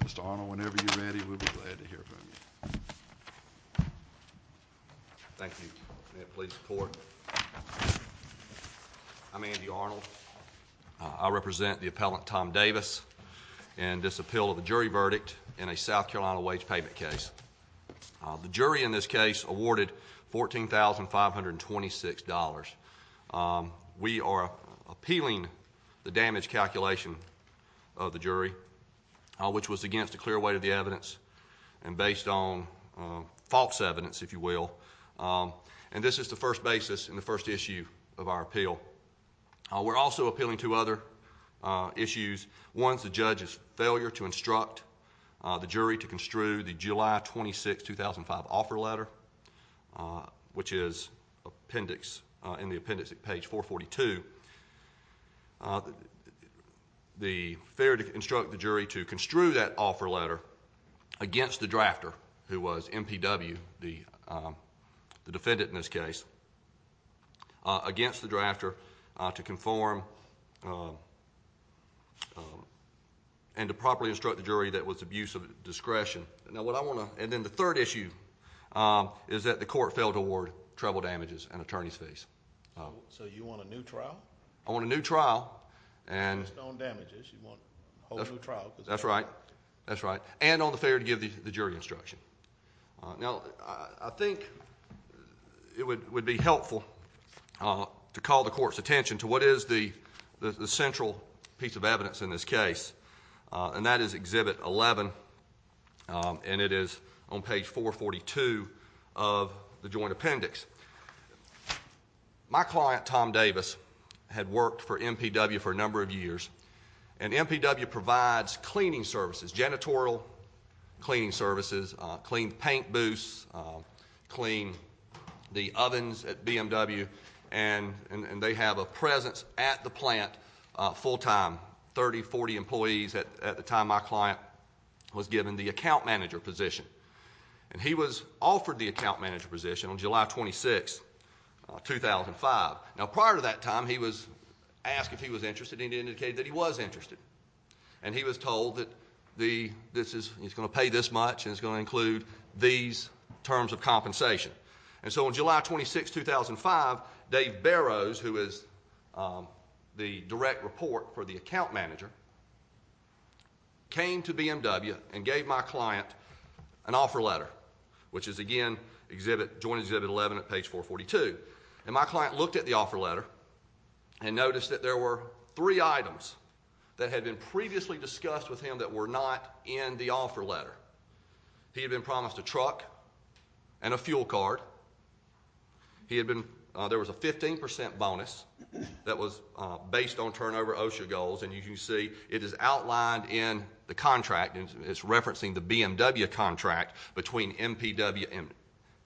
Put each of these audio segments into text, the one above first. Mr. Arnold, whenever you're ready, we'll be glad to hear from you. Thank you. May it please the Court. I'm Andy Arnold. I represent the appellant Tom Davis in this appeal of the jury verdict in a South Carolina wage payment case. The jury in this case awarded $14,526. We are appealing the damage calculation of the jury, which was against a clear weight of the evidence and based on false evidence, if you will. And this is the first basis in the first issue of our appeal. We're also appealing two other issues. One is the judge's failure to instruct the jury to construe the July 26, 2005, offer letter, which is in the appendix at page 442. The failure to instruct the jury to construe that offer letter against the drafter, who was MPW, the defendant in this case, against the drafter to conform and to properly instruct the jury that was abuse of discretion. And then the third issue is that the Court failed to award treble damages and attorney's fees. So you want a new trial? I want a new trial. Based on damages, you want a whole new trial. That's right. That's right. And on the failure to give the jury instruction. Now, I think it would be helpful to call the Court's attention to what is the central piece of evidence in this case. And that is Exhibit 11, and it is on page 442 of the joint appendix. My client, Tom Davis, had worked for MPW for a number of years. And MPW provides cleaning services, janitorial cleaning services, clean paint booths, clean the ovens at BMW, and they have a presence at the plant full time, 30, 40 employees at the time my client was given the account manager position. And he was offered the account manager position on July 26, 2005. Now, prior to that time, he was asked if he was interested, and he indicated that he was interested. And he was told that he's going to pay this much, and it's going to include these terms of compensation. And so on July 26, 2005, Dave Barrows, who is the direct report for the account manager, came to BMW and gave my client an offer letter, which is, again, joint Exhibit 11 at page 442. And my client looked at the offer letter and noticed that there were three items that had been previously discussed with him that were not in the offer letter. He had been promised a truck and a fuel card. There was a 15% bonus that was based on turnover OSHA goals, and you can see it is outlined in the contract. It's referencing the BMW contract between MPW and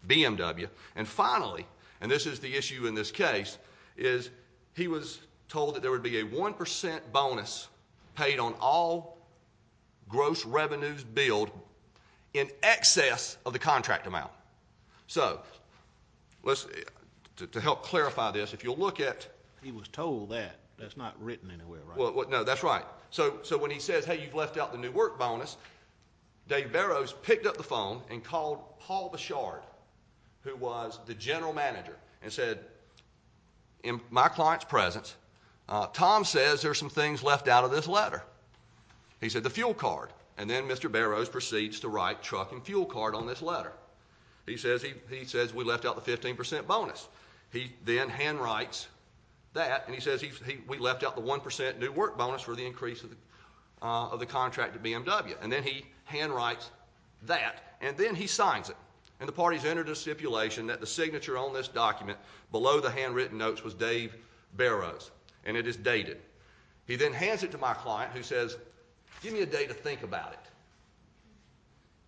BMW. And finally, and this is the issue in this case, is he was told that there would be a 1% bonus paid on all gross revenues billed in excess of the contract amount. So, to help clarify this, if you'll look at. He was told that. That's not written anywhere, right? No, that's right. So when he says, hey, you've left out the new work bonus, Dave Barrows picked up the phone and called Paul Bouchard, who was the general manager, and said, in my client's presence, Tom says there's some things left out of this letter. He said the fuel card. And then Mr. Barrows proceeds to write truck and fuel card on this letter. He says we left out the 15% bonus. He then handwrites that, and he says we left out the 1% new work bonus for the increase of the contract to BMW. And then he handwrites that, and then he signs it. And the parties entered a stipulation that the signature on this document below the handwritten notes was Dave Barrows. And it is dated. He then hands it to my client, who says, give me a day to think about it.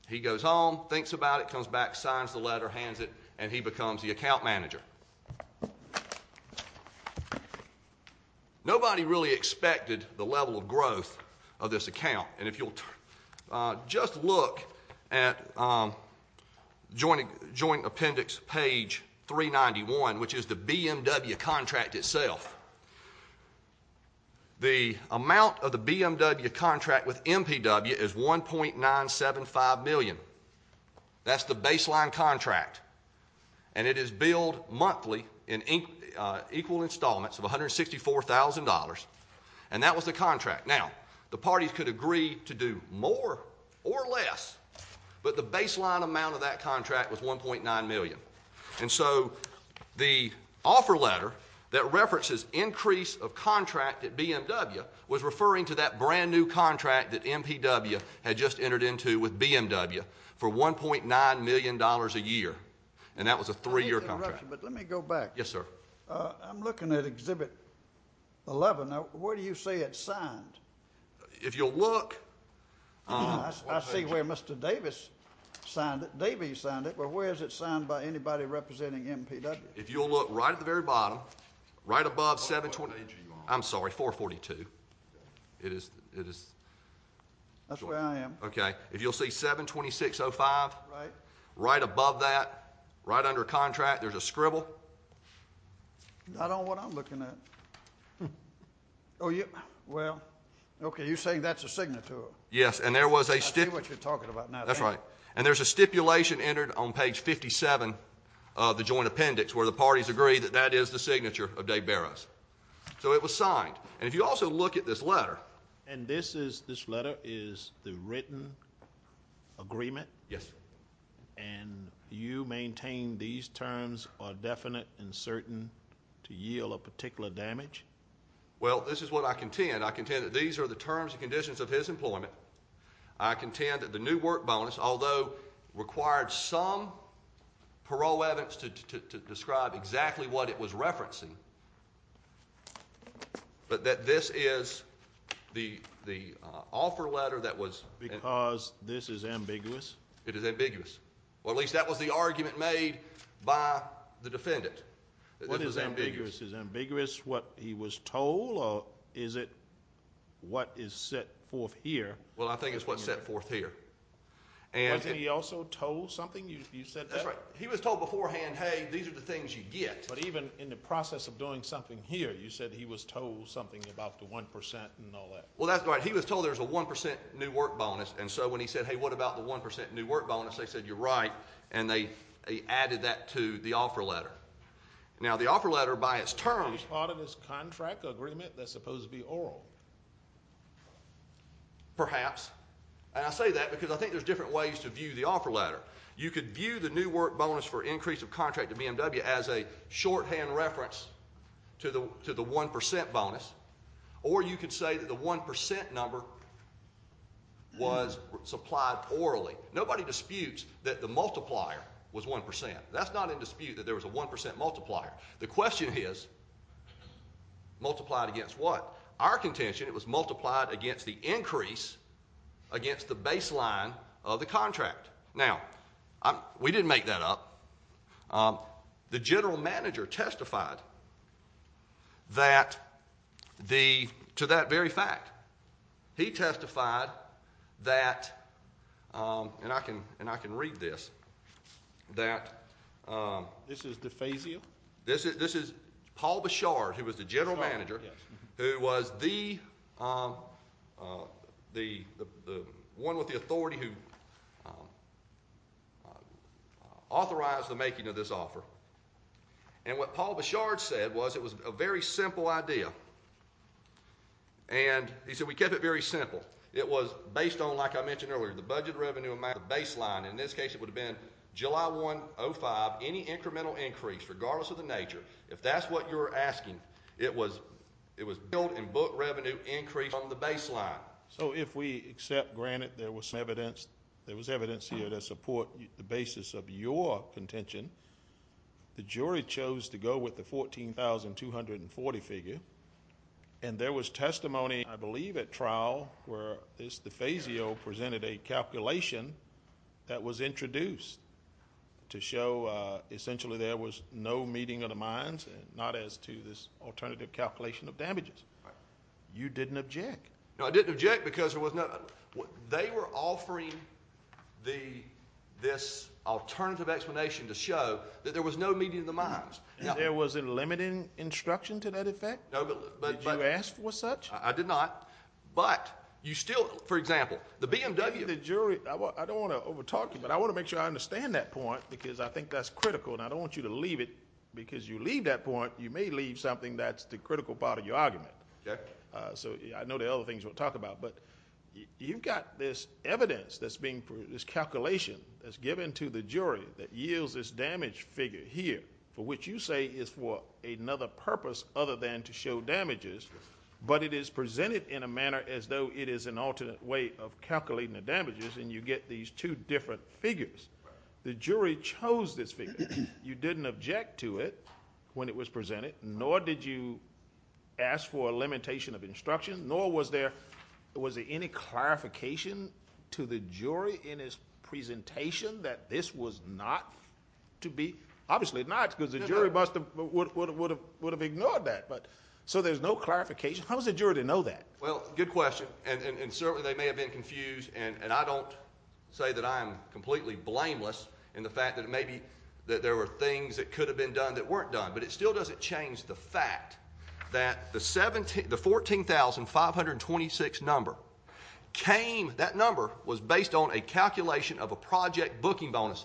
He goes home, thinks about it, comes back, signs the letter, hands it, and he becomes the account manager. Nobody really expected the level of growth of this account. And if you'll just look at joint appendix page 391, which is the BMW contract itself, the amount of the BMW contract with MPW is $1.975 million. That's the baseline contract. And it is billed monthly in equal installments of $164,000. And that was the contract. Now, the parties could agree to do more or less, but the baseline amount of that contract was $1.9 million. And so the offer letter that references increase of contract at BMW was referring to that brand new contract that MPW had just entered into with BMW for $1.9 million a year. And that was a three-year contract. Let me go back. Yes, sir. I'm looking at Exhibit 11. Now, where do you say it's signed? If you'll look. I see where Mr. Davis signed it. Davis signed it, but where is it signed by anybody representing MPW? If you'll look right at the very bottom, right above 720. What page are you on? I'm sorry, 442. It is. That's where I am. Okay. If you'll see 726.05. Right. Right above that, right under contract, there's a scribble. Not on what I'm looking at. Oh, yeah. Well, okay. You're saying that's a signature. Yes. And there was a stipulation. I see what you're talking about now. That's right. And there's a stipulation entered on page 57 of the joint appendix where the parties agree that that is the signature of Dave Barrows. So it was signed. And if you also look at this letter. And this letter is the written agreement? Yes. And you maintain these terms are definite and certain to yield a particular damage? Well, this is what I contend. I contend that these are the terms and conditions of his employment. I contend that the new work bonus, although it required some parole evidence to describe exactly what it was referencing, but that this is the offer letter that was. Because this is ambiguous. It is ambiguous. Well, at least that was the argument made by the defendant. What is ambiguous? Is ambiguous what he was told or is it what is set forth here? Well, I think it's what's set forth here. Wasn't he also told something? You said that? That's right. He was told beforehand, hey, these are the things you get. But even in the process of doing something here, you said he was told something about the 1% and all that. Well, that's right. He was told there's a 1% new work bonus. And so when he said, hey, what about the 1% new work bonus? They said, you're right. And they added that to the offer letter. Now, the offer letter by its terms. It was part of his contract agreement that's supposed to be oral. Perhaps. And I say that because I think there's different ways to view the offer letter. You could view the new work bonus for increase of contract to BMW as a shorthand reference to the 1% bonus, or you could say that the 1% number was supplied orally. Nobody disputes that the multiplier was 1%. That's not in dispute that there was a 1% multiplier. The question is, multiplied against what? Our contention, it was multiplied against the increase against the baseline of the contract. Now, we didn't make that up. The general manager testified to that very fact. He testified that, and I can read this, that. This is DeFazio? This is Paul Bouchard, who was the general manager, who was the one with the authority who authorized the making of this offer. And what Paul Bouchard said was it was a very simple idea. And he said, we kept it very simple. It was based on, like I mentioned earlier, the budget revenue amount, the baseline. In this case, it would have been July 1, 2005, any incremental increase, regardless of the nature. If that's what you're asking, it was built-in book revenue increase on the baseline. So if we accept, granted, there was evidence here to support the basis of your contention, the jury chose to go with the $14,240 figure, and there was testimony, I believe, at trial where DeFazio presented a calculation that was introduced to show essentially there was no meeting of the minds, not as to this alternative calculation of damages. You didn't object. No, I didn't object because there was no – they were offering this alternative explanation to show that there was no meeting of the minds. And there was a limiting instruction to that effect? No, but – Did you ask for such? I did not. But you still, for example, the BMW – I don't want to over-talk you, but I want to make sure I understand that point because I think that's critical, and I don't want you to leave it because you leave that point, you may leave something that's the critical part of your argument. Okay. So I know there are other things we'll talk about, but you've got this evidence that's being – this calculation that's given to the jury that yields this damage figure here, for which you say is for another purpose other than to show damages, but it is presented in a manner as though it is an alternate way of calculating the damages, and you get these two different figures. The jury chose this figure. You didn't object to it when it was presented, nor did you ask for a limitation of instruction, nor was there any clarification to the jury in its presentation that this was not to be – obviously not because the jury would have ignored that. So there's no clarification. How does the jury know that? Well, good question, and certainly they may have been confused, and I don't say that I'm completely blameless in the fact that maybe there were things that could have been done that weren't done, but it still doesn't change the fact that the 14,526 number came – that number was based on a calculation of a project booking bonus.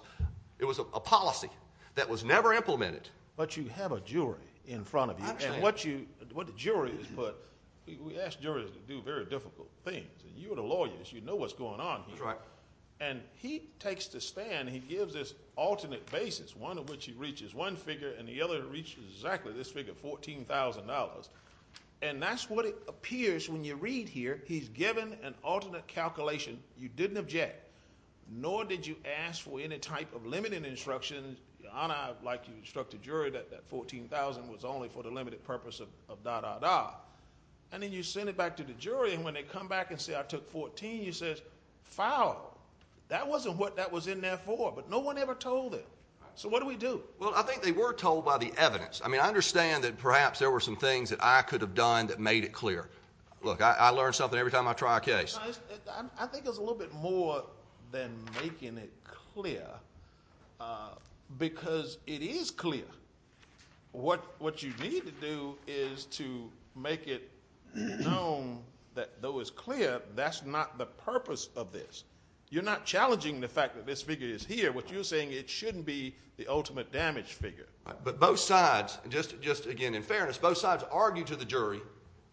It was a policy that was never implemented. But you have a jury in front of you. I understand. And what the jury has put – we ask juries to do very difficult things. You are the lawyers. You know what's going on here. That's right. And he takes the stand. And he gives this alternate basis, one of which he reaches. One figure and the other reaches exactly this figure, $14,000. And that's what it appears when you read here. He's given an alternate calculation. You didn't object, nor did you ask for any type of limiting instructions. Your Honor, like you instructed the jury, that that $14,000 was only for the limited purpose of da-da-da. And then you send it back to the jury, and when they come back and say, I took 14, you say, foul. That wasn't what that was in there for. But no one ever told them. So what do we do? Well, I think they were told by the evidence. I mean, I understand that perhaps there were some things that I could have done that made it clear. Look, I learn something every time I try a case. I think it's a little bit more than making it clear, because it is clear. What you need to do is to make it known, though it's clear, that's not the purpose of this. You're not challenging the fact that this figure is here. What you're saying, it shouldn't be the ultimate damage figure. But both sides, just again in fairness, both sides argued to the jury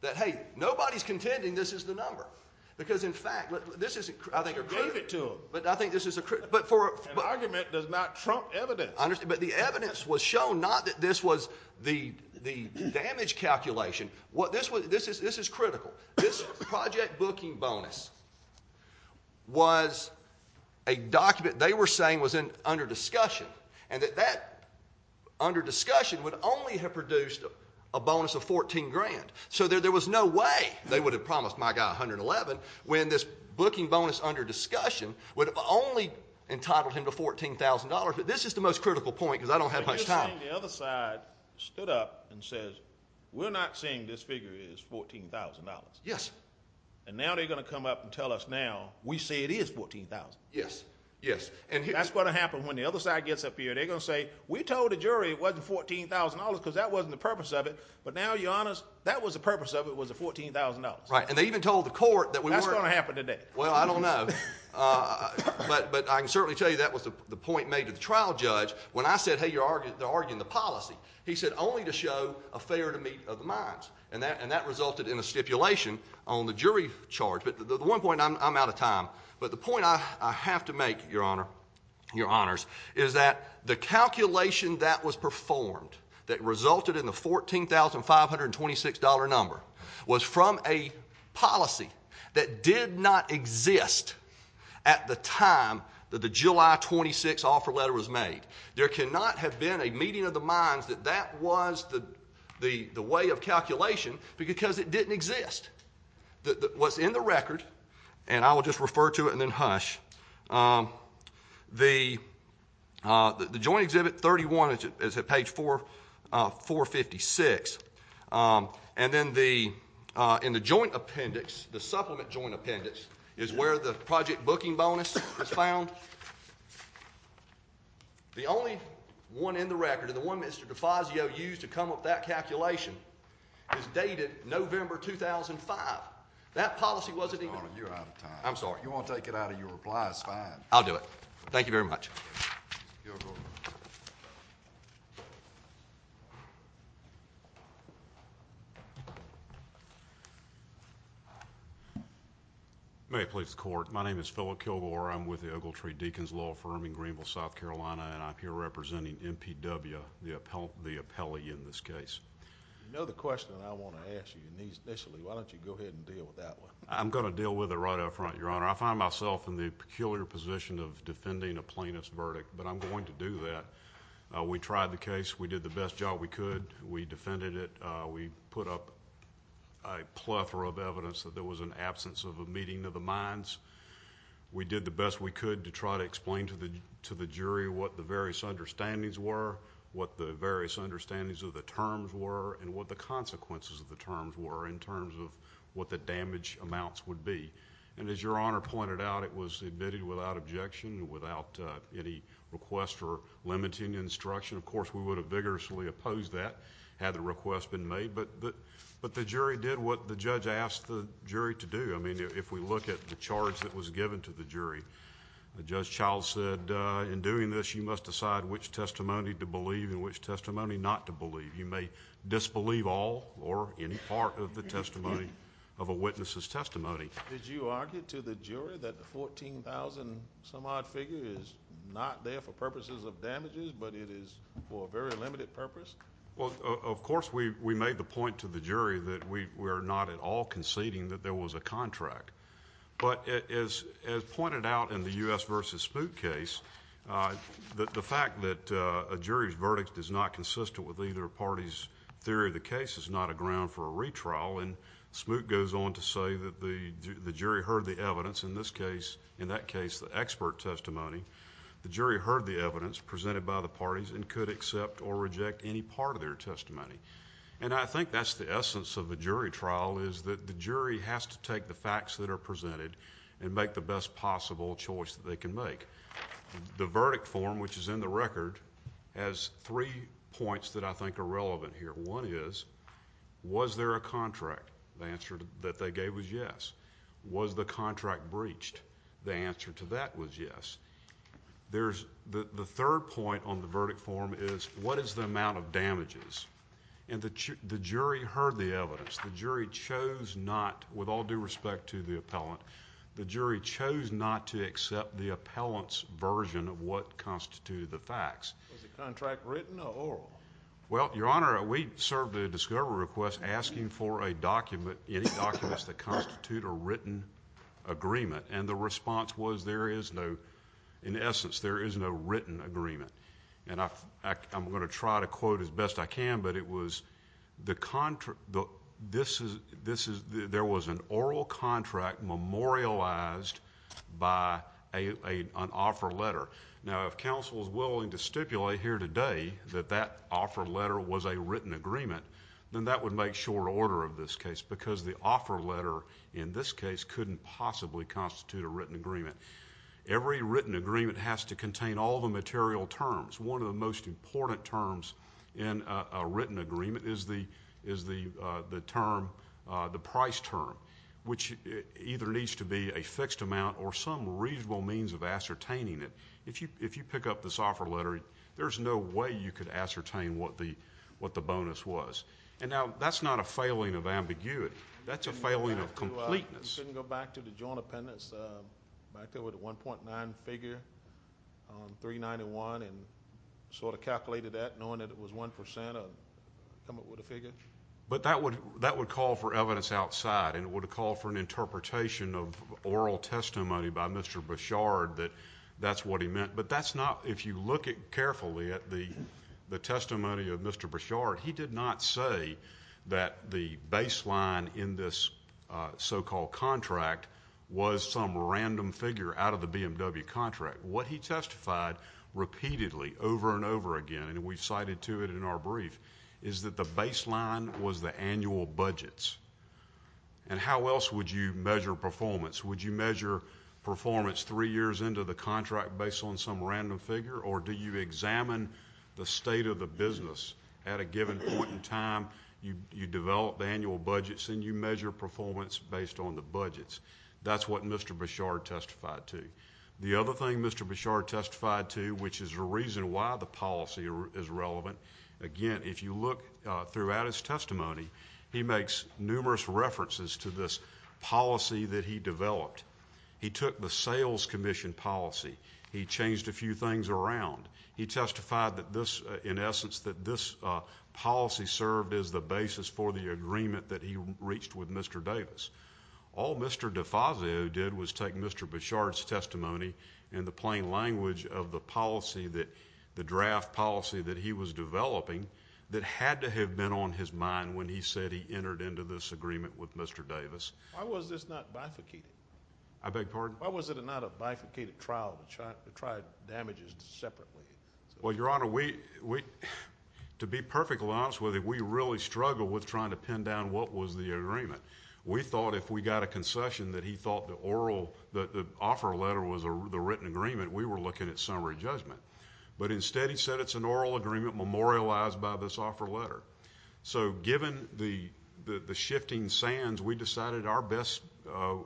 that, hey, nobody's contending this is the number. Because, in fact, this is, I think. You gave it to them. But I think this is. An argument does not trump evidence. But the evidence was shown not that this was the damage calculation. This is critical. This project booking bonus was a document they were saying was under discussion, and that that under discussion would only have produced a bonus of $14,000. So there was no way they would have promised my guy $111 when this booking bonus under discussion would have only entitled him to $14,000. But this is the most critical point, because I don't have much time. But you're saying the other side stood up and said, we're not saying this figure is $14,000. Yes. And now they're going to come up and tell us now, we say it is $14,000. Yes, yes. That's going to happen when the other side gets up here. They're going to say, we told the jury it wasn't $14,000 because that wasn't the purpose of it. But now you're honest, that was the purpose of it was the $14,000. Right. And they even told the court that we weren't. That's going to happen today. Well, I don't know. But I can certainly tell you that was the point made to the trial judge when I said, hey, they're arguing the policy. He said only to show a fair to meet of the minds. And that resulted in a stipulation on the jury charge. But the one point, I'm out of time. But the point I have to make, Your Honor, Your Honors, is that the calculation that was performed that resulted in the $14,526 number was from a policy that did not exist at the time that the July 26 offer letter was made. There cannot have been a meeting of the minds that that was the way of calculation because it didn't exist. What's in the record, and I will just refer to it and then hush, the joint exhibit 31 is at page 456. And then in the joint appendix, the supplement joint appendix, is where the project booking bonus is found. The only one in the record, and the one Mr. Defazio used to come up with that calculation, is dated November 2005. That policy wasn't even there. Your Honor, you're out of time. I'm sorry. If you want to take it out of your reply, it's fine. I'll do it. Thank you very much. Mr. Kilgore. May it please the court. My name is Philip Kilgore. I'm with the Ogletree Deacons Law Firm in Greenville, South Carolina, and I'm here representing NPW, the appellee in this case. You know the question I want to ask you initially. Why don't you go ahead and deal with that one? I'm going to deal with it right up front, Your Honor. I find myself in the peculiar position of defending a plaintiff's verdict, but I'm going to do that. We tried the case. We did the best job we could. We defended it. We put up a plethora of evidence that there was an absence of a meeting of the minds. We did the best we could to try to explain to the jury what the various understandings were, what the various understandings of the terms were, and what the consequences of the terms were in terms of what the damage amounts would be. And as Your Honor pointed out, it was admitted without objection, without any request or limiting instruction. Of course, we would have vigorously opposed that had the request been made, but the jury did what the judge asked the jury to do. I mean, if we look at the charge that was given to the jury, Judge Childs said in doing this you must decide which testimony to believe and which testimony not to believe. You may disbelieve all or any part of the testimony of a witness's testimony. Did you argue to the jury that the 14,000-some-odd figure is not there for purposes of damages, but it is for a very limited purpose? Well, of course, we made the point to the jury that we are not at all conceding that there was a contract. But as pointed out in the U.S. v. Smoot case, the fact that a jury's verdict is not consistent with either party's theory of the case is not a ground for a retrial. And Smoot goes on to say that the jury heard the evidence, in this case, in that case, the expert testimony. The jury heard the evidence presented by the parties and could accept or reject any part of their testimony. And I think that's the essence of a jury trial is that the jury has to take the facts that are presented and make the best possible choice that they can make. The verdict form, which is in the record, has three points that I think are relevant here. One is, was there a contract? The answer that they gave was yes. Was the contract breached? The answer to that was yes. The third point on the verdict form is, what is the amount of damages? And the jury heard the evidence. The jury chose not, with all due respect to the appellant, the jury chose not to accept the appellant's version of what constituted the facts. Was the contract written or oral? Well, Your Honor, we served a discovery request asking for a document, any documents that constitute a written agreement. And the response was there is no, in essence, there is no written agreement. And I'm going to try to quote as best I can, but it was, there was an oral contract memorialized by an offer letter. Now, if counsel is willing to stipulate here today that that offer letter was a written agreement, then that would make short order of this case because the offer letter in this case couldn't possibly constitute a written agreement. Every written agreement has to contain all the material terms. One of the most important terms in a written agreement is the term, the price term, which either needs to be a fixed amount or some reasonable means of ascertaining it. If you pick up this offer letter, there's no way you could ascertain what the bonus was. And now, that's not a failing of ambiguity. That's a failing of completeness. You can go back to the joint appendix back there with the 1.9 figure on 391 and sort of calculated that knowing that it was 1% of coming up with a figure. But that would call for evidence outside, and it would call for an interpretation of oral testimony by Mr. Bouchard that that's what he meant. But that's not, if you look carefully at the testimony of Mr. Bouchard, he did not say that the baseline in this so-called contract was some random figure out of the BMW contract. What he testified repeatedly over and over again, and we cited to it in our brief, is that the baseline was the annual budgets. And how else would you measure performance? Would you measure performance three years into the contract based on some random figure, or do you examine the state of the business? At a given point in time, you develop the annual budgets, and you measure performance based on the budgets. That's what Mr. Bouchard testified to. The other thing Mr. Bouchard testified to, which is the reason why the policy is relevant, again, if you look throughout his testimony, he makes numerous references to this policy that he developed. He took the sales commission policy. He changed a few things around. He testified that this, in essence, that this policy served as the basis for the agreement that he reached with Mr. Davis. All Mr. DeFazio did was take Mr. Bouchard's testimony and the plain language of the policy that the draft policy that he was developing that had to have been on his mind when he said he entered into this agreement with Mr. Davis. Why was this not bifurcated? I beg your pardon? Why was it not a bifurcated trial to try damages separately? Well, Your Honor, to be perfectly honest with you, we really struggled with trying to pin down what was the agreement. We thought if we got a concession that he thought the offer letter was the written agreement, we were looking at summary judgment. But instead he said it's an oral agreement memorialized by this offer letter. So given the shifting sands, we decided our best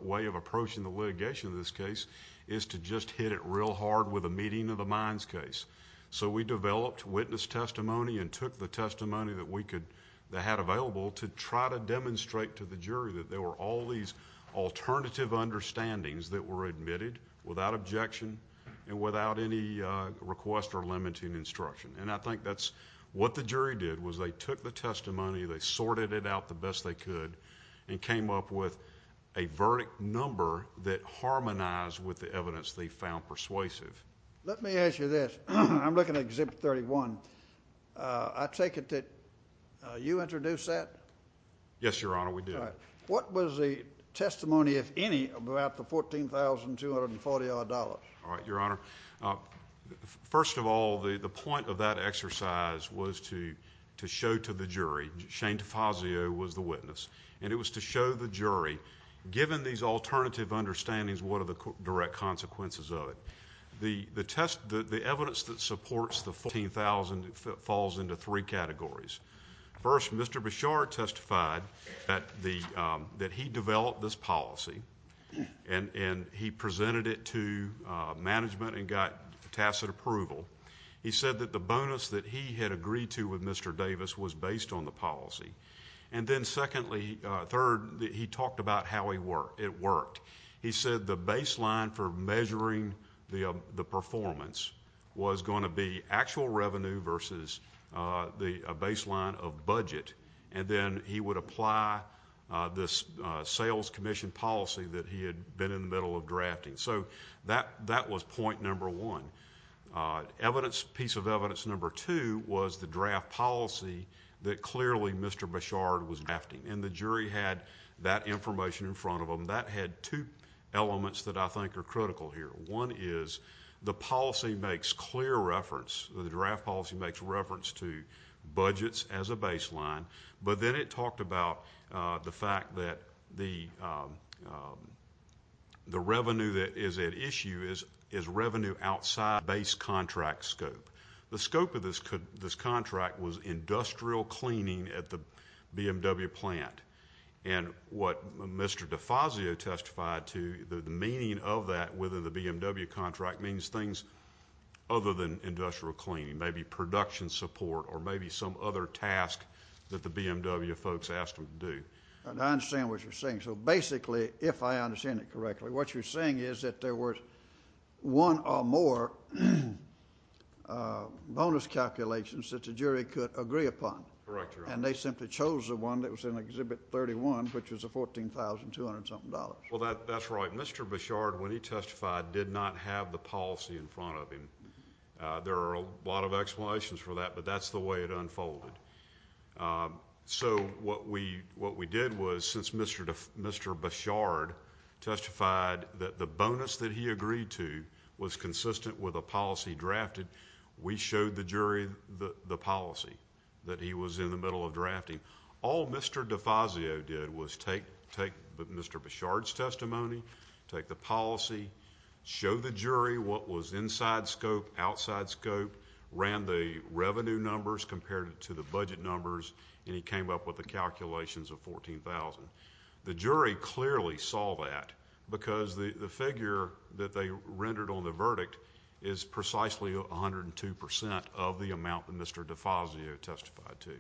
way of approaching the litigation in this case is to just hit it real hard with a meeting of the minds case. So we developed witness testimony and took the testimony that we had available to try to demonstrate to the jury that there were all these alternative understandings that were admitted without objection and without any request or limiting instruction. And I think that's what the jury did was they took the testimony, they sorted it out the best they could, and came up with a verdict number that harmonized with the evidence they found persuasive. Let me ask you this. I'm looking at Exhibit 31. I take it that you introduced that? Yes, Your Honor, we did. What was the testimony, if any, about the $14,240-odd? All right, Your Honor. First of all, the point of that exercise was to show to the jury. Shane DeFazio was the witness, and it was to show the jury given these alternative understandings what are the direct consequences of it. The evidence that supports the $14,000 falls into three categories. First, Mr. Beshar testified that he developed this policy and he presented it to management and got tacit approval. He said that the bonus that he had agreed to with Mr. Davis was based on the policy. And then, secondly, third, he talked about how it worked. He said the baseline for measuring the performance was going to be actual revenue versus the baseline of budget, and then he would apply this sales commission policy that he had been in the middle of drafting. So that was point number one. Piece of evidence number two was the draft policy that clearly Mr. Beshar was drafting, and the jury had that information in front of them. That had two elements that I think are critical here. One is the policy makes clear reference, the draft policy makes reference to budgets as a baseline, but then it talked about the fact that the revenue that is at issue is revenue outside base contract scope. The scope of this contract was industrial cleaning at the BMW plant, and what Mr. DeFazio testified to, the meaning of that within the BMW contract means things other than industrial cleaning, maybe production support or maybe some other task that the BMW folks asked them to do. I understand what you're saying. So basically, if I understand it correctly, what you're saying is that there were one or more bonus calculations that the jury could agree upon. Correct, Your Honor. And they simply chose the one that was in Exhibit 31, which was $14,200-something. Well, that's right. Mr. Beshar, when he testified, did not have the policy in front of him. There are a lot of explanations for that, but that's the way it unfolded. So what we did was since Mr. Beshar testified that the bonus that he agreed to was consistent with a policy drafted, we showed the jury the policy that he was in the middle of drafting. All Mr. DeFazio did was take Mr. Beshar's testimony, take the policy, show the jury what was inside scope, outside scope, ran the revenue numbers, compared it to the budget numbers, and he came up with the calculations of $14,000. The jury clearly saw that because the figure that they rendered on the verdict is precisely 102% of the amount that Mr. DeFazio testified to.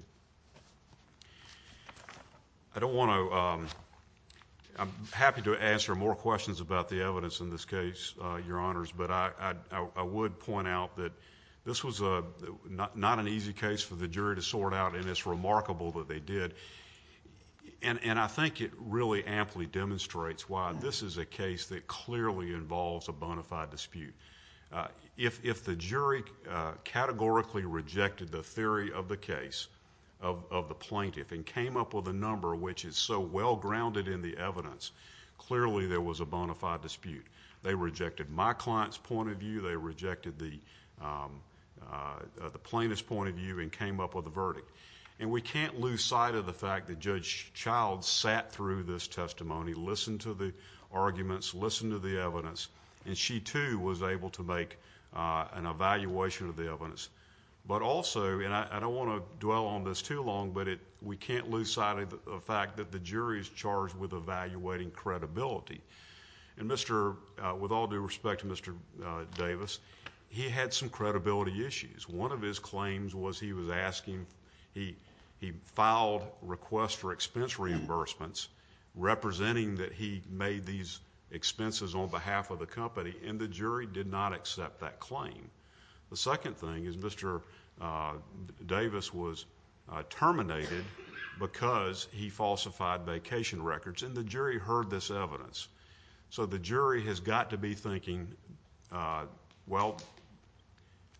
I'm happy to answer more questions about the evidence in this case, Your Honors, but I would point out that this was not an easy case for the jury to sort out, and it's remarkable that they did. And I think it really amply demonstrates why this is a case that clearly involves a bona fide dispute. If the jury categorically rejected the theory of the case of the plaintiff and came up with a number which is so well grounded in the evidence, clearly there was a bona fide dispute. They rejected my client's point of view. They rejected the plaintiff's point of view and came up with a verdict. And we can't lose sight of the fact that Judge Child sat through this testimony, listened to the arguments, listened to the evidence, and she too was able to make an evaluation of the evidence. But also, and I don't want to dwell on this too long, but we can't lose sight of the fact that the jury is charged with evaluating credibility. With all due respect to Mr. Davis, he had some credibility issues. One of his claims was he was asking, he filed requests for expense reimbursements representing that he made these expenses on behalf of the company, and the jury did not accept that claim. The second thing is Mr. Davis was terminated because he falsified vacation records, and the jury heard this evidence. So the jury has got to be thinking, well,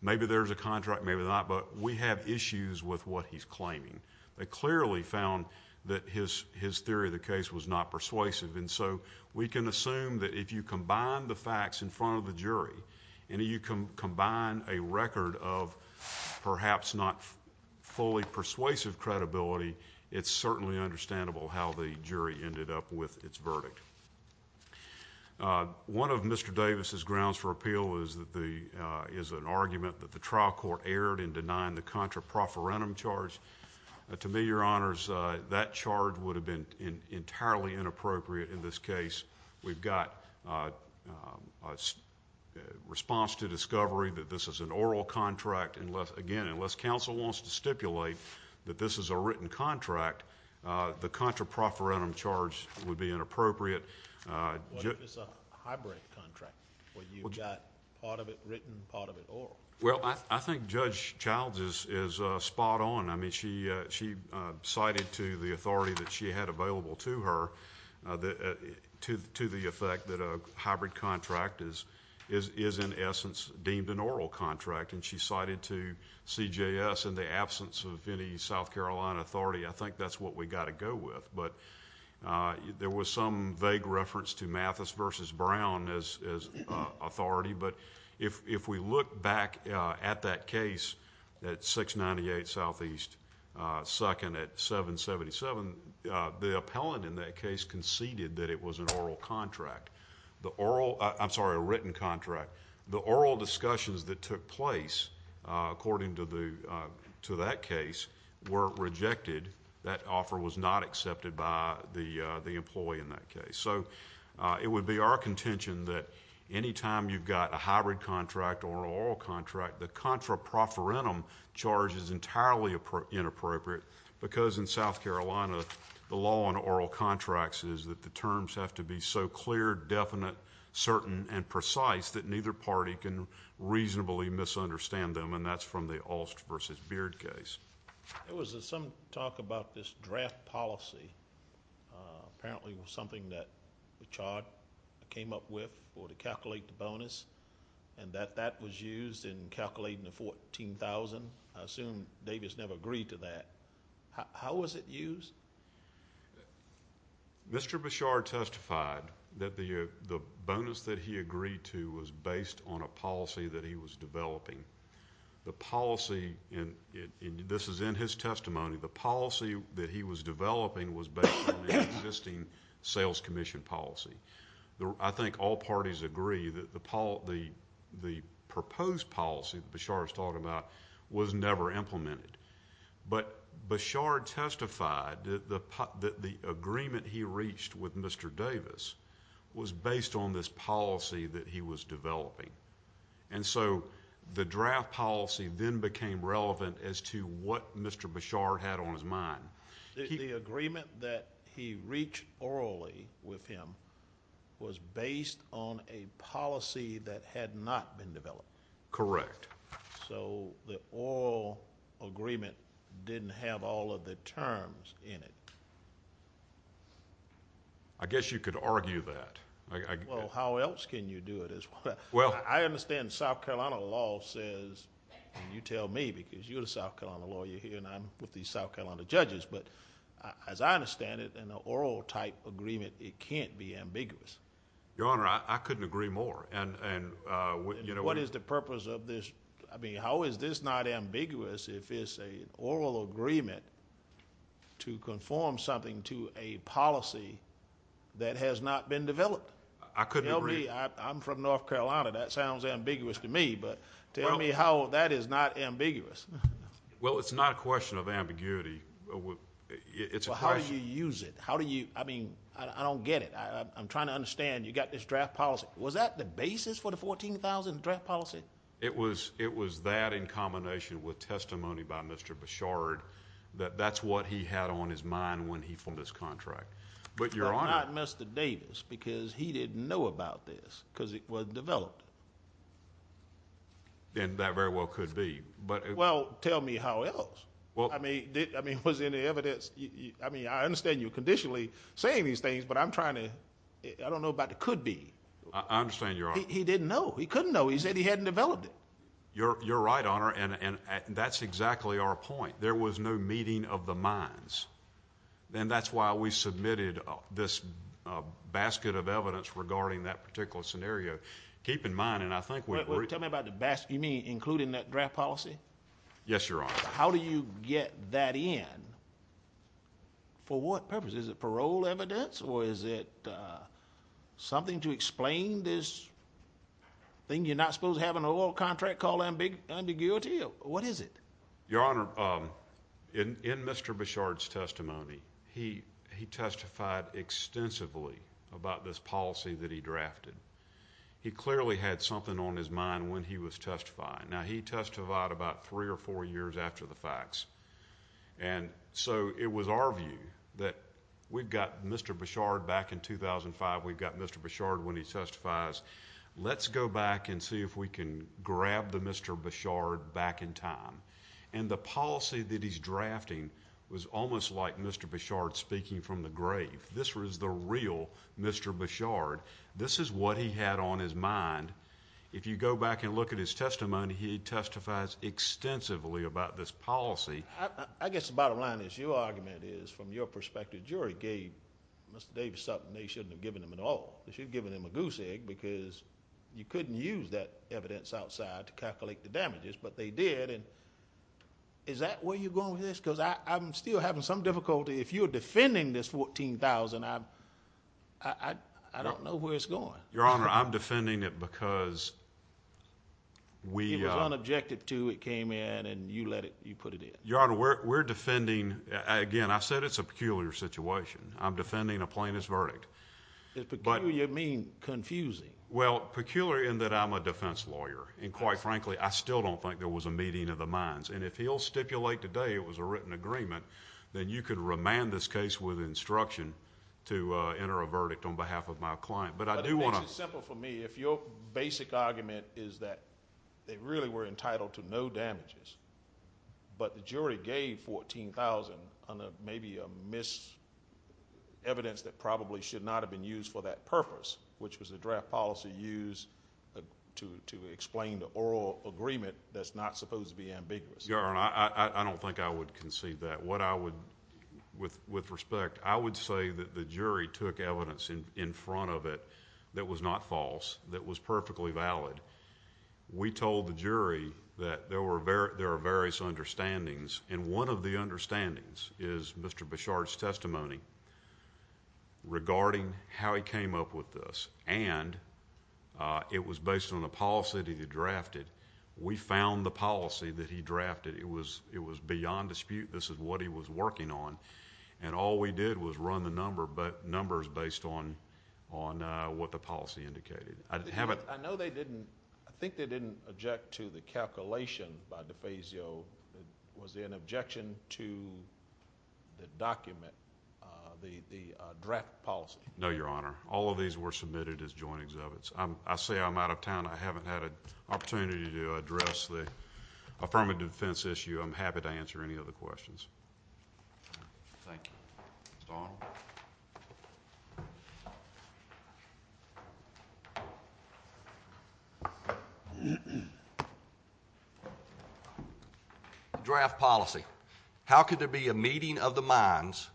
maybe there's a contract, maybe not, but we have issues with what he's claiming. They clearly found that his theory of the case was not persuasive, and so we can assume that if you combine the facts in front of the jury and you combine a record of perhaps not fully persuasive credibility, it's certainly understandable how the jury ended up with its verdict. One of Mr. Davis' grounds for appeal is an argument that the trial court erred in denying the contra profferentum charge. To me, Your Honors, that charge would have been entirely inappropriate in this case. We've got a response to discovery that this is an oral contract. Again, unless counsel wants to stipulate that this is a written contract, the contra profferentum charge would be inappropriate. What if it's a hybrid contract where you've got part of it written, part of it oral? Well, I think Judge Childs is spot on. I mean, she cited to the authority that she had available to her to the effect that a hybrid contract is in essence deemed an oral contract, and she cited to CJS in the absence of any South Carolina authority, I think that's what we've got to go with. There was some vague reference to Mathis v. Brown as authority, but if we look back at that case at 698 Southeast 2nd at 777, the appellant in that case conceded that it was a written contract. The oral discussions that took place according to that case were rejected. That offer was not accepted by the employee in that case. So it would be our contention that anytime you've got a hybrid contract or an oral contract, the contra profferentum charge is entirely inappropriate because in South Carolina the law on oral contracts is that the terms have to be so clear, definite, certain, and precise that neither party can reasonably misunderstand them, and that's from the Alst v. Beard case. There was some talk about this draft policy. Apparently it was something that Bichard came up with to calculate the bonus and that that was used in calculating the $14,000. I assume Davis never agreed to that. How was it used? Mr. Bichard testified that the bonus that he agreed to was based on a policy that he was developing. The policy, and this is in his testimony, the policy that he was developing was based on an existing sales commission policy. I think all parties agree that the proposed policy that Bichard was talking about was never implemented. But Bichard testified that the agreement he reached with Mr. Davis was based on this policy that he was developing. And so the draft policy then became relevant as to what Mr. Bichard had on his mind. The agreement that he reached orally with him was based on a policy that had not been developed. Correct. So the oral agreement didn't have all of the terms in it. I guess you could argue that. Well, how else can you do it? I understand South Carolina law says, and you tell me because you're a South Carolina lawyer here and I'm with these South Carolina judges. But as I understand it, in an oral type agreement, it can't be ambiguous. Your Honor, I couldn't agree more. What is the purpose of this? I mean, how is this not ambiguous if it's an oral agreement to conform something to a policy that has not been developed? I couldn't agree. I'm from North Carolina. That sounds ambiguous to me. But tell me how that is not ambiguous. Well, it's not a question of ambiguity. How do you use it? I mean, I don't get it. I'm trying to understand. You've got this draft policy. Was that the basis for the $14,000 draft policy? It was that in combination with testimony by Mr. Bichard that that's what he had on his mind when he formed this contract. But not Mr. Davis because he didn't know about this because it wasn't developed. Then that very well could be. Well, tell me how else. I mean, was there any evidence? I mean, I understand you conditionally saying these things, but I don't know about the could be. I understand, Your Honor. He didn't know. He couldn't know. He said he hadn't developed it. You're right, Your Honor, and that's exactly our point. There was no meeting of the minds. And that's why we submitted this basket of evidence regarding that particular scenario. Keep in mind, and I think we've already. Tell me about the basket. You mean including that draft policy? Yes, Your Honor. How do you get that in? For what purpose? Is it parole evidence or is it something to explain this thing? You're not supposed to have an oral contract called ambiguity? What is it? Your Honor, in Mr. Bichard's testimony, he testified extensively about this policy that he drafted. He clearly had something on his mind when he was testifying. Now, he testified about three or four years after the facts, and so it was our view that we've got Mr. Bichard back in 2005. We've got Mr. Bichard when he testifies. Let's go back and see if we can grab the Mr. Bichard back in time. And the policy that he's drafting was almost like Mr. Bichard speaking from the grave. This was the real Mr. Bichard. This is what he had on his mind. If you go back and look at his testimony, he testifies extensively about this policy. I guess the bottom line is your argument is, from your perspective, the jury gave Mr. Davis something they shouldn't have given him at all. They should have given him a goose egg because you couldn't use that evidence outside to calculate the damages, but they did, and is that where you're going with this? Because I'm still having some difficulty. If you're defending this $14,000, I don't know where it's going. Your Honor, I'm defending it because we— It was unobjected to. It came in, and you let it—you put it in. Your Honor, we're defending—again, I said it's a peculiar situation. I'm defending a plaintiff's verdict. By peculiar, you mean confusing. Well, peculiar in that I'm a defense lawyer, and quite frankly, I still don't think there was a meeting of the minds. If he'll stipulate today it was a written agreement, then you could remand this case with instruction to enter a verdict on behalf of my client, but I do want to— It makes it simple for me. If your basic argument is that they really were entitled to no damages, but the jury gave $14,000 under maybe a mis— evidence that probably should not have been used for that purpose, which was a draft policy used to explain the oral agreement that's not supposed to be ambiguous. Your Honor, I don't think I would concede that. What I would—with respect, I would say that the jury took evidence in front of it that was not false, that was perfectly valid. We told the jury that there were various understandings, and one of the understandings is Mr. Bichard's testimony regarding how he came up with this, and it was based on the policy that he drafted. We found the policy that he drafted. It was beyond dispute. This is what he was working on, and all we did was run the numbers based on what the policy indicated. I know they didn't—I think they didn't object to the calculation by DeFazio. Was there an objection to the document, the draft policy? No, Your Honor. All of these were submitted as joint exhibits. I say I'm out of town. I haven't had an opportunity to address the affirmative defense issue. I'm happy to answer any other questions. Thank you. Mr. Arnold? The draft policy. How could there be a meeting of the minds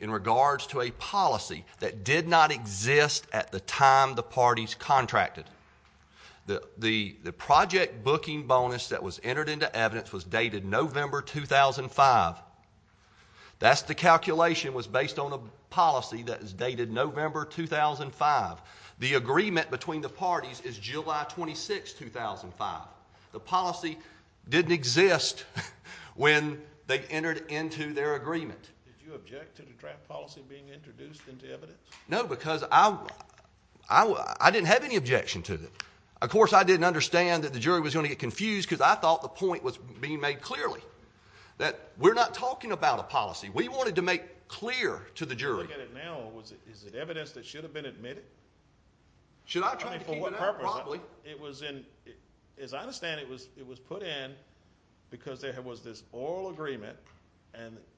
in regards to a policy that did not exist at the time the parties contracted? The project booking bonus that was entered into evidence was dated November 2005. That's the calculation was based on a policy that is dated November 2005. The agreement between the parties is July 26, 2005. The policy didn't exist when they entered into their agreement. Did you object to the draft policy being introduced into evidence? No, because I didn't have any objection to it. Of course, I didn't understand that the jury was going to get confused because I thought the point was being made clearly, that we're not talking about a policy. We wanted to make clear to the jury. The way I look at it now, is it evidence that should have been admitted? Should I try to keep it out? Probably. As I understand it, it was put in because there was this oral agreement,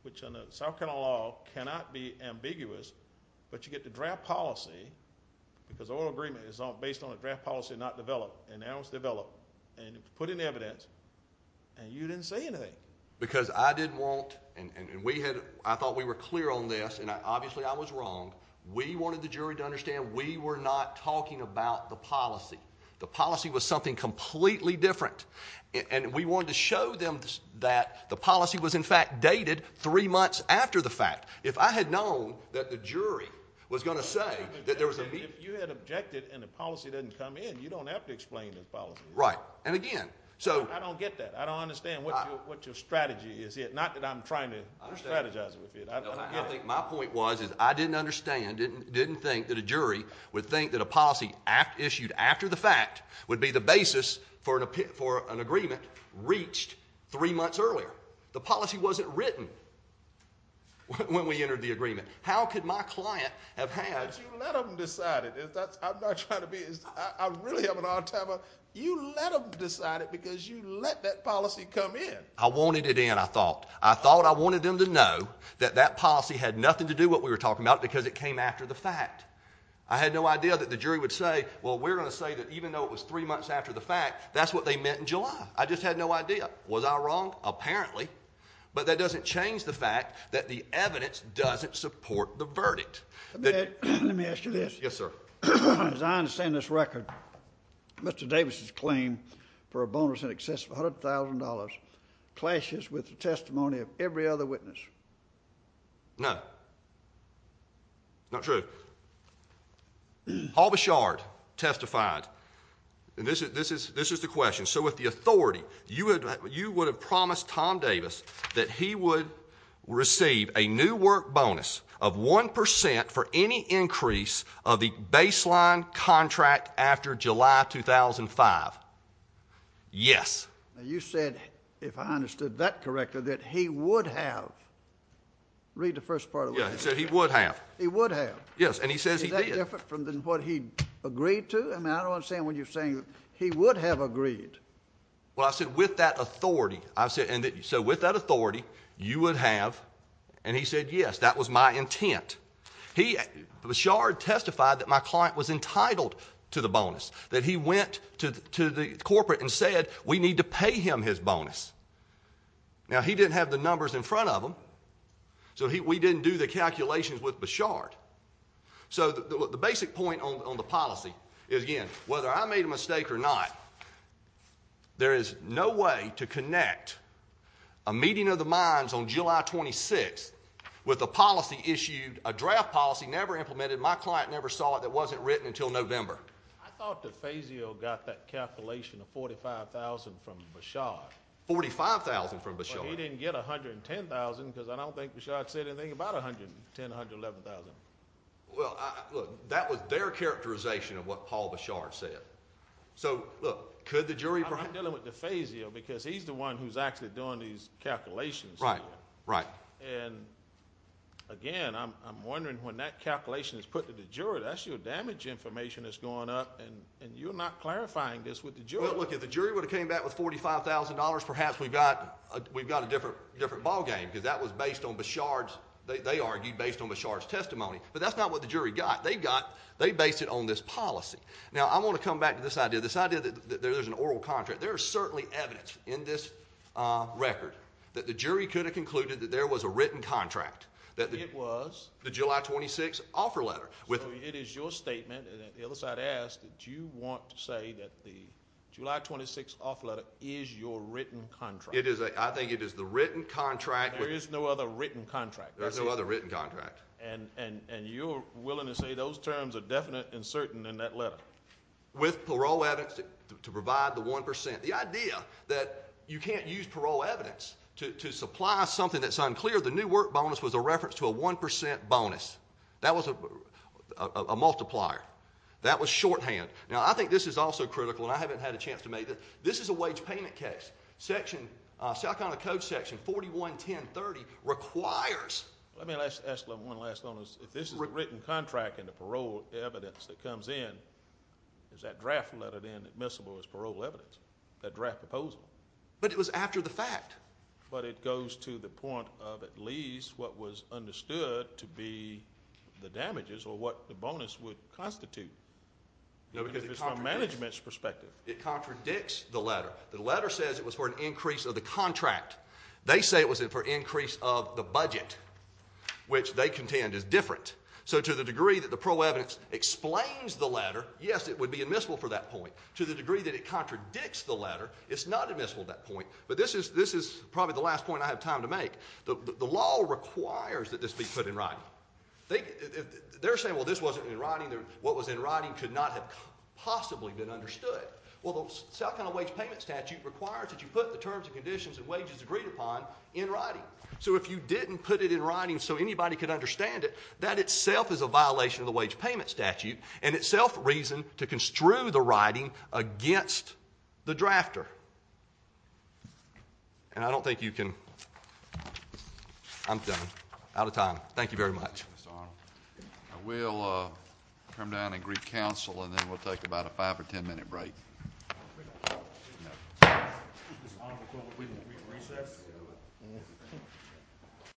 which under South Carolina law cannot be ambiguous, but you get the draft policy because oral agreement is based on a draft policy not developed, and now it's developed. It was put in evidence, and you didn't say anything. Because I didn't want, and I thought we were clear on this, and obviously I was wrong, we wanted the jury to understand we were not talking about the policy. The policy was something completely different, and we wanted to show them that the policy was in fact dated three months after the fact. If I had known that the jury was going to say that there was a meeting. If you had objected and the policy didn't come in, you don't have to explain the policy. Right, and again. I don't get that. I don't understand what your strategy is here. Not that I'm trying to strategize with you. My point was I didn't understand, didn't think that a jury would think that a policy issued after the fact would be the basis for an agreement reached three months earlier. The policy wasn't written when we entered the agreement. How could my client have had... You let them decide it. I'm not trying to be... I really haven't had time. You let them decide it because you let that policy come in. I wanted it in, I thought. I thought I wanted them to know that that policy had nothing to do with what we were talking about because it came after the fact. I had no idea that the jury would say, well, we're going to say that even though it was three months after the fact, that's what they meant in July. I just had no idea. Was I wrong? Apparently. But that doesn't change the fact that the evidence doesn't support the verdict. Let me ask you this. Yes, sir. As I understand this record, Mr. Davis's claim for a bonus in excess of $100,000 clashes with the testimony of every other witness. No. Not true. Paul Bouchard testified. This is the question. So with the authority, you would have promised Tom Davis that he would receive a new work bonus of 1% for any increase of the baseline contract after July 2005. Yes. Now you said, if I understood that correctly, that he would have. Read the first part of what he said. Yeah, he said he would have. He would have. Yes, and he says he did. Is that different from what he agreed to? I mean, I don't understand what you're saying. He would have agreed. Well, I said with that authority. So with that authority, you would have. And he said, yes, that was my intent. Bouchard testified that my client was entitled to the bonus, that he went to the corporate and said, we need to pay him his bonus. Now, he didn't have the numbers in front of him, so we didn't do the calculations with Bouchard. So the basic point on the policy is, again, whether I made a mistake or not, there is no way to connect a meeting of the minds on July 26th with a policy issued, a draft policy never implemented, and my client never saw it that wasn't written until November. I thought DeFazio got that calculation of $45,000 from Bouchard. $45,000 from Bouchard. But he didn't get $110,000 because I don't think Bouchard said anything about $110,000, $110,000, $111,000. Well, look, that was their characterization of what Paul Bouchard said. So, look, could the jury bring it? I'm dealing with DeFazio because he's the one who's actually doing these calculations. Right, right. And, again, I'm wondering when that calculation is put to the jury, that's your damage information that's going up, and you're not clarifying this with the jury. Well, look, if the jury would have came back with $45,000, perhaps we've got a different ballgame because that was based on Bouchard's, they argued, based on Bouchard's testimony. But that's not what the jury got. They based it on this policy. Now, I want to come back to this idea, this idea that there's an oral contract. There is certainly evidence in this record that the jury could have concluded that there was a written contract. It was. The July 26 offer letter. So it is your statement, and the other side asked, do you want to say that the July 26 offer letter is your written contract? I think it is the written contract. There is no other written contract. There's no other written contract. And you're willing to say those terms are definite and certain in that letter? With parole evidence to provide the 1%. The idea that you can't use parole evidence to supply something that's unclear. The new work bonus was a reference to a 1% bonus. That was a multiplier. That was shorthand. Now, I think this is also critical, and I haven't had a chance to make it. This is a wage payment case. South Carolina Code section 41-1030 requires. Let me ask one last one. If this is a written contract and the parole evidence that comes in, is that draft letter then admissible as parole evidence, that draft proposal? But it was after the fact. But it goes to the point of at least what was understood to be the damages or what the bonus would constitute. No, because it contradicts. If it's from management's perspective. It contradicts the letter. The letter says it was for an increase of the contract. They say it was for increase of the budget, which they contend is different. So to the degree that the parole evidence explains the letter, yes, it would be admissible for that point. To the degree that it contradicts the letter, it's not admissible at that point. But this is probably the last point I have time to make. The law requires that this be put in writing. They're saying, well, this wasn't in writing. What was in writing could not have possibly been understood. Well, the South Carolina wage payment statute requires that you put the terms and conditions and wages agreed upon in writing. So if you didn't put it in writing so anybody could understand it, that itself is a violation of the wage payment statute and itself reason to construe the writing against the drafter. And I don't think you can. I'm done. Out of time. Thank you very much. I will come down and greet counsel, and then we'll take about a five or ten minute break.